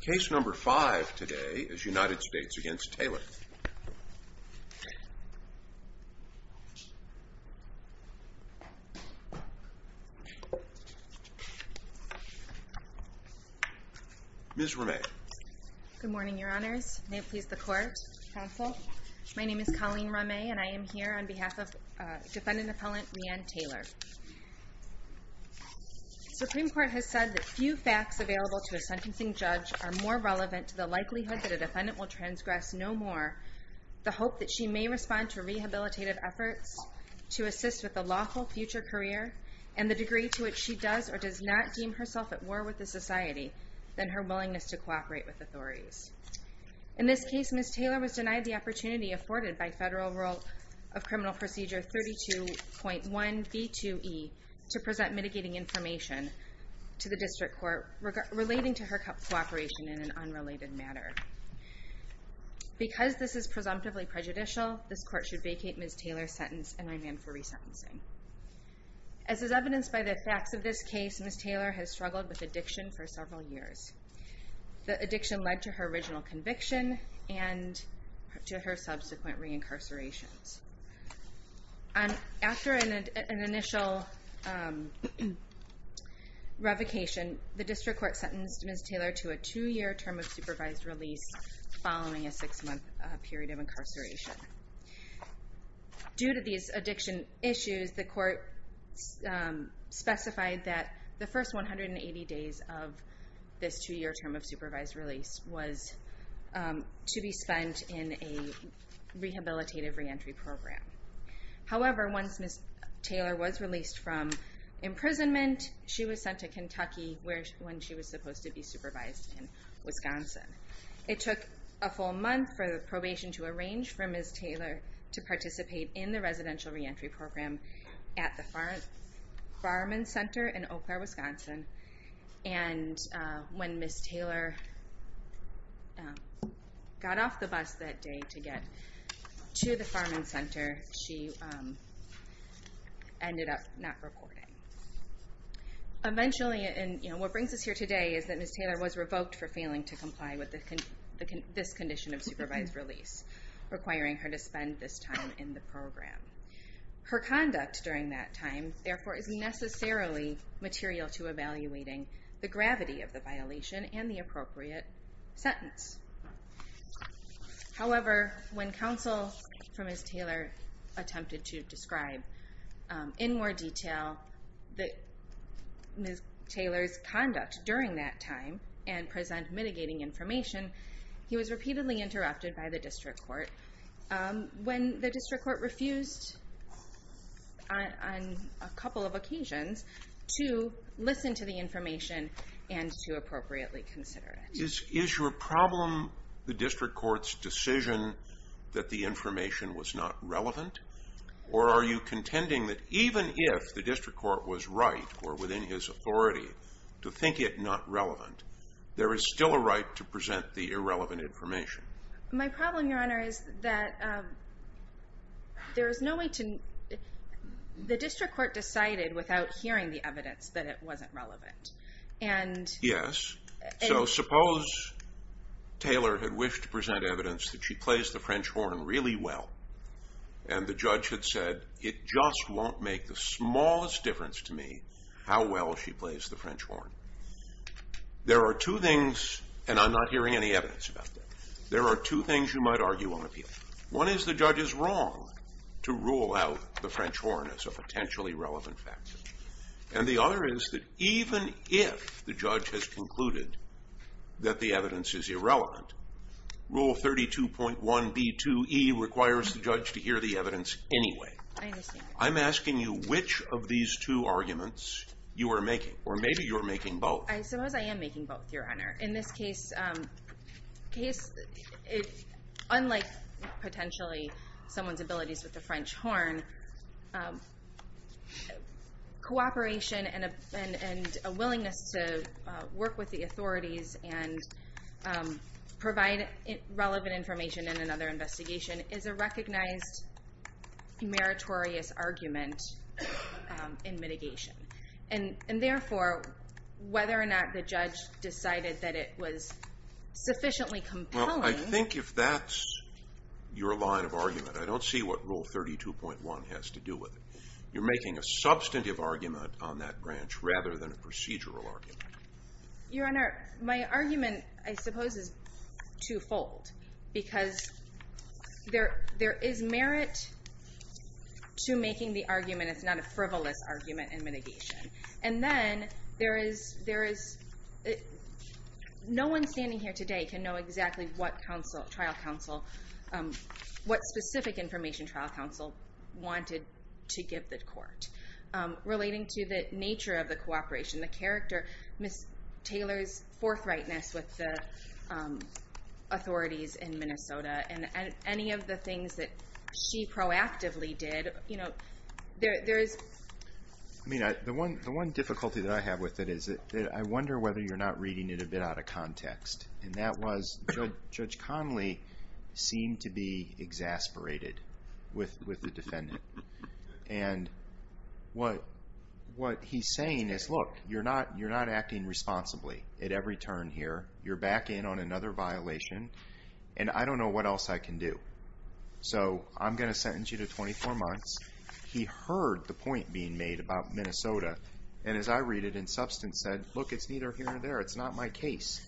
Case number 5 today is United States v. Taylor Ms. Rameh Good morning your honors, may it please the court, counsel My name is Colleen Rameh and I am here on behalf of defendant appellant Reanne Taylor Supreme Court has said that few facts available to a sentencing judge are more relevant to the likelihood that a defendant will transgress no more the hope that she may respond to rehabilitative efforts to assist with a lawful future career and the degree to which she does or does not deem herself at war with the society than her willingness to cooperate with authorities In this case Ms. Taylor was denied the opportunity afforded by Federal Rule of Criminal Procedure 32.1b2e to present mitigating information to the district court relating to her cooperation in an unrelated matter Because this is presumptively prejudicial, this court should vacate Ms. Taylor's sentence and remand for resentencing As is evidenced by the facts of this case, Ms. Taylor has struggled with addiction for several years The addiction led to her original conviction and to her subsequent re-incarcerations After an initial revocation, the district court sentenced Ms. Taylor to a two year term of supervised release following a six month period of incarceration Due to these addiction issues, the court specified that the first 180 days of this two year term of supervised release was to be spent in a rehabilitative re-entry program However, once Ms. Taylor was released from imprisonment, she was sent to Kentucky when she was supposed to be supervised in Wisconsin It took a full month for the probation to arrange for Ms. Taylor to participate in the residential re-entry program at the Farman Center in Eau Claire, Wisconsin And when Ms. Taylor got off the bus that day to get to the Farman Center, she ended up not reporting What brings us here today is that Ms. Taylor was revoked for failing to comply with this condition of supervised release requiring her to spend this time in the program Her conduct during that time, therefore, is necessarily material to evaluating the gravity of the violation and the appropriate sentence However, when counsel for Ms. Taylor attempted to describe in more detail Ms. Taylor's conduct during that time and present mitigating information, he was repeatedly interrupted by the district court when the district court refused, on a couple of occasions, to listen to the information and to appropriately consider it Is your problem the district court's decision that the information was not relevant? Or are you contending that even if the district court was right, or within his authority, to think it not relevant there is still a right to present the irrelevant information? My problem, Your Honor, is that the district court decided without hearing the evidence that it wasn't relevant Yes, so suppose Taylor had wished to present evidence that she plays the French horn really well and the judge had said, it just won't make the smallest difference to me how well she plays the French horn There are two things, and I'm not hearing any evidence about that, there are two things you might argue on appeal One is the judge is wrong to rule out the French horn as a potentially relevant factor And the other is that even if the judge has concluded that the evidence is irrelevant Rule 32.1b2e requires the judge to hear the evidence anyway I'm asking you which of these two arguments you are making, or maybe you're making both I suppose I am making both, Your Honor In this case, unlike potentially someone's abilities with the French horn Cooperation and a willingness to work with the authorities and provide relevant information in another investigation is a recognized meritorious argument in mitigation And therefore, whether or not the judge decided that it was sufficiently compelling Well, I think if that's your line of argument, I don't see what Rule 32.1 has to do with it You're making a substantive argument on that branch rather than a procedural argument Your Honor, my argument, I suppose, is twofold Because there is merit to making the argument, it's not a frivolous argument in mitigation And then, no one standing here today can know exactly what specific information trial counsel wanted to give the court Relating to the nature of the cooperation, the character, Ms. Taylor's forthrightness With the authorities in Minnesota, and any of the things that she proactively did I mean, the one difficulty that I have with it is that I wonder whether you're not reading it a bit out of context And that was, Judge Connolly seemed to be exasperated with the defendant And what he's saying is, look, you're not acting responsibly at every turn here You're back in on another violation, and I don't know what else I can do So, I'm going to sentence you to 24 months He heard the point being made about Minnesota, and as I read it, in substance said Look, it's neither here nor there, it's not my case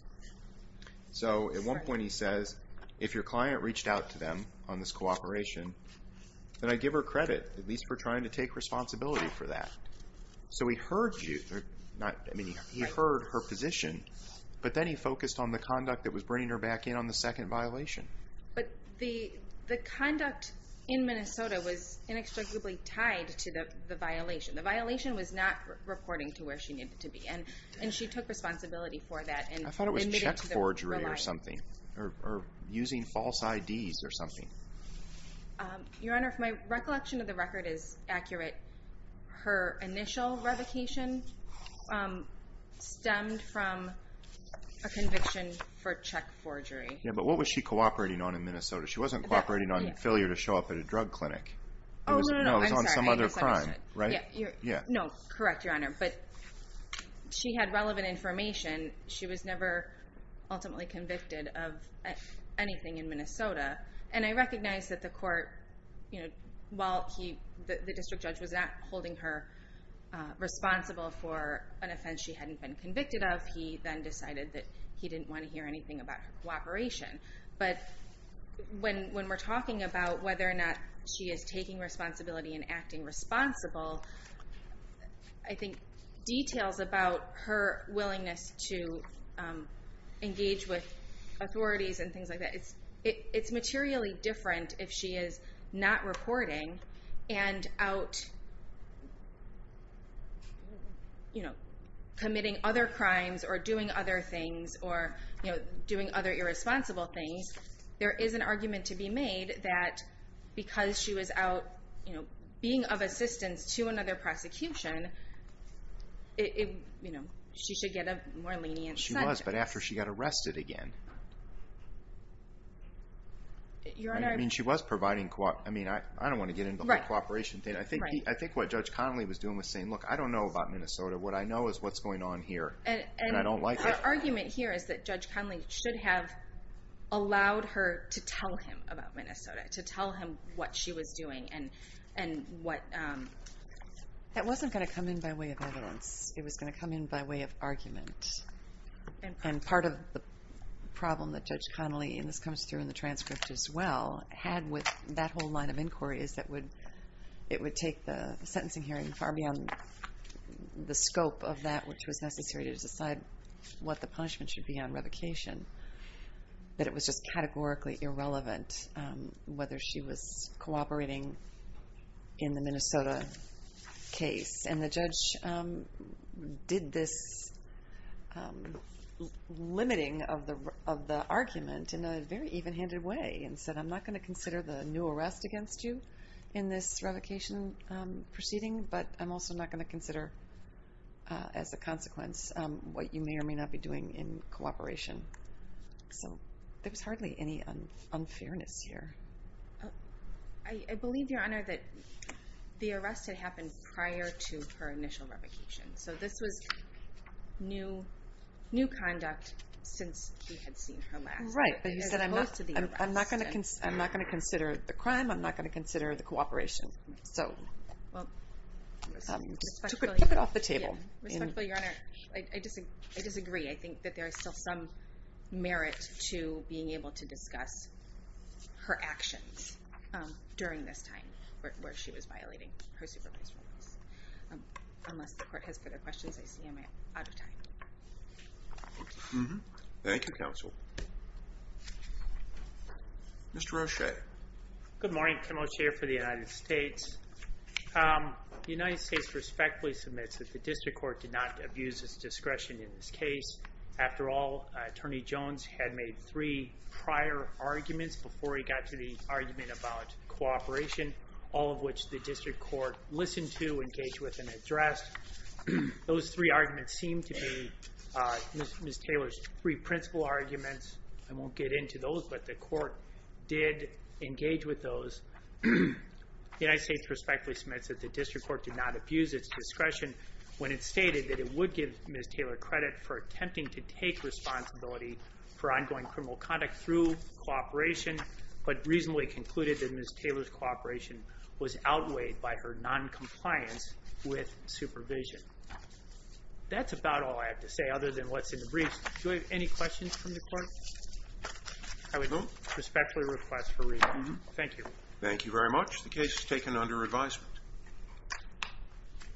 So, at one point he says, if your client reached out to them on this cooperation Then I give her credit, at least for trying to take responsibility for that So, he heard her position, but then he focused on the conduct that was bringing her back in on the second violation But the conduct in Minnesota was inextricably tied to the violation The violation was not reporting to where she needed to be, and she took responsibility for that I thought it was check forgery or something, or using false IDs or something Your Honor, if my recollection of the record is accurate Her initial revocation stemmed from a conviction for check forgery Yeah, but what was she cooperating on in Minnesota? She wasn't cooperating on failure to show up at a drug clinic Oh, no, no, no, I'm sorry No, it was on some other crime, right? No, correct, Your Honor, but she had relevant information She was never ultimately convicted of anything in Minnesota And I recognize that the court, while the district judge was not holding her responsible for an offense she hadn't been convicted of He then decided that he didn't want to hear anything about her cooperation But when we're talking about whether or not she is taking responsibility and acting responsible I think details about her willingness to engage with authorities and things like that It's materially different if she is not reporting and out committing other crimes or doing other things Or doing other irresponsible things There is an argument to be made that because she was out being of assistance to another prosecution She should get a more lenient sentence I don't know where she was, but after she got arrested again I don't want to get into the whole cooperation thing I think what Judge Conley was doing was saying, look, I don't know about Minnesota What I know is what's going on here And her argument here is that Judge Conley should have allowed her to tell him about Minnesota To tell him what she was doing That wasn't going to come in by way of evidence It was going to come in by way of argument And part of the problem that Judge Conley, and this comes through in the transcript as well Had with that whole line of inquiry is that it would take the sentencing hearing far beyond the scope of that Which was necessary to decide what the punishment should be on revocation That it was just categorically irrelevant whether she was cooperating in the Minnesota case And the judge did this limiting of the argument in a very even-handed way And said I'm not going to consider the new arrest against you in this revocation proceeding But I'm also not going to consider as a consequence what you may or may not be doing in cooperation So there was hardly any unfairness here I believe, Your Honor, that the arrest had happened prior to her initial revocation So this was new conduct since we had seen her last Right, but you said I'm not going to consider the crime, I'm not going to consider the cooperation Respectfully, Your Honor, I disagree I think that there is still some merit to being able to discuss her actions during this time Where she was violating her supervisory rights Unless the court has further questions, I see I'm out of time Thank you, Counsel Mr. Roche Good morning, General Chair for the United States The United States respectfully submits that the District Court did not abuse its discretion in this case After all, Attorney Jones had made three prior arguments before he got to the argument about cooperation All of which the District Court listened to, engaged with, and addressed Those three arguments seem to be Ms. Taylor's three principal arguments I won't get into those, but the court did engage with those The United States respectfully submits that the District Court did not abuse its discretion When it stated that it would give Ms. Taylor credit for attempting to take responsibility For ongoing criminal conduct through cooperation But reasonably concluded that Ms. Taylor's cooperation was outweighed by her non-compliance with supervision That's about all I have to say, other than what's in the briefs Do we have any questions from the court? I would respectfully request for review Thank you Thank you very much The case is taken under advisement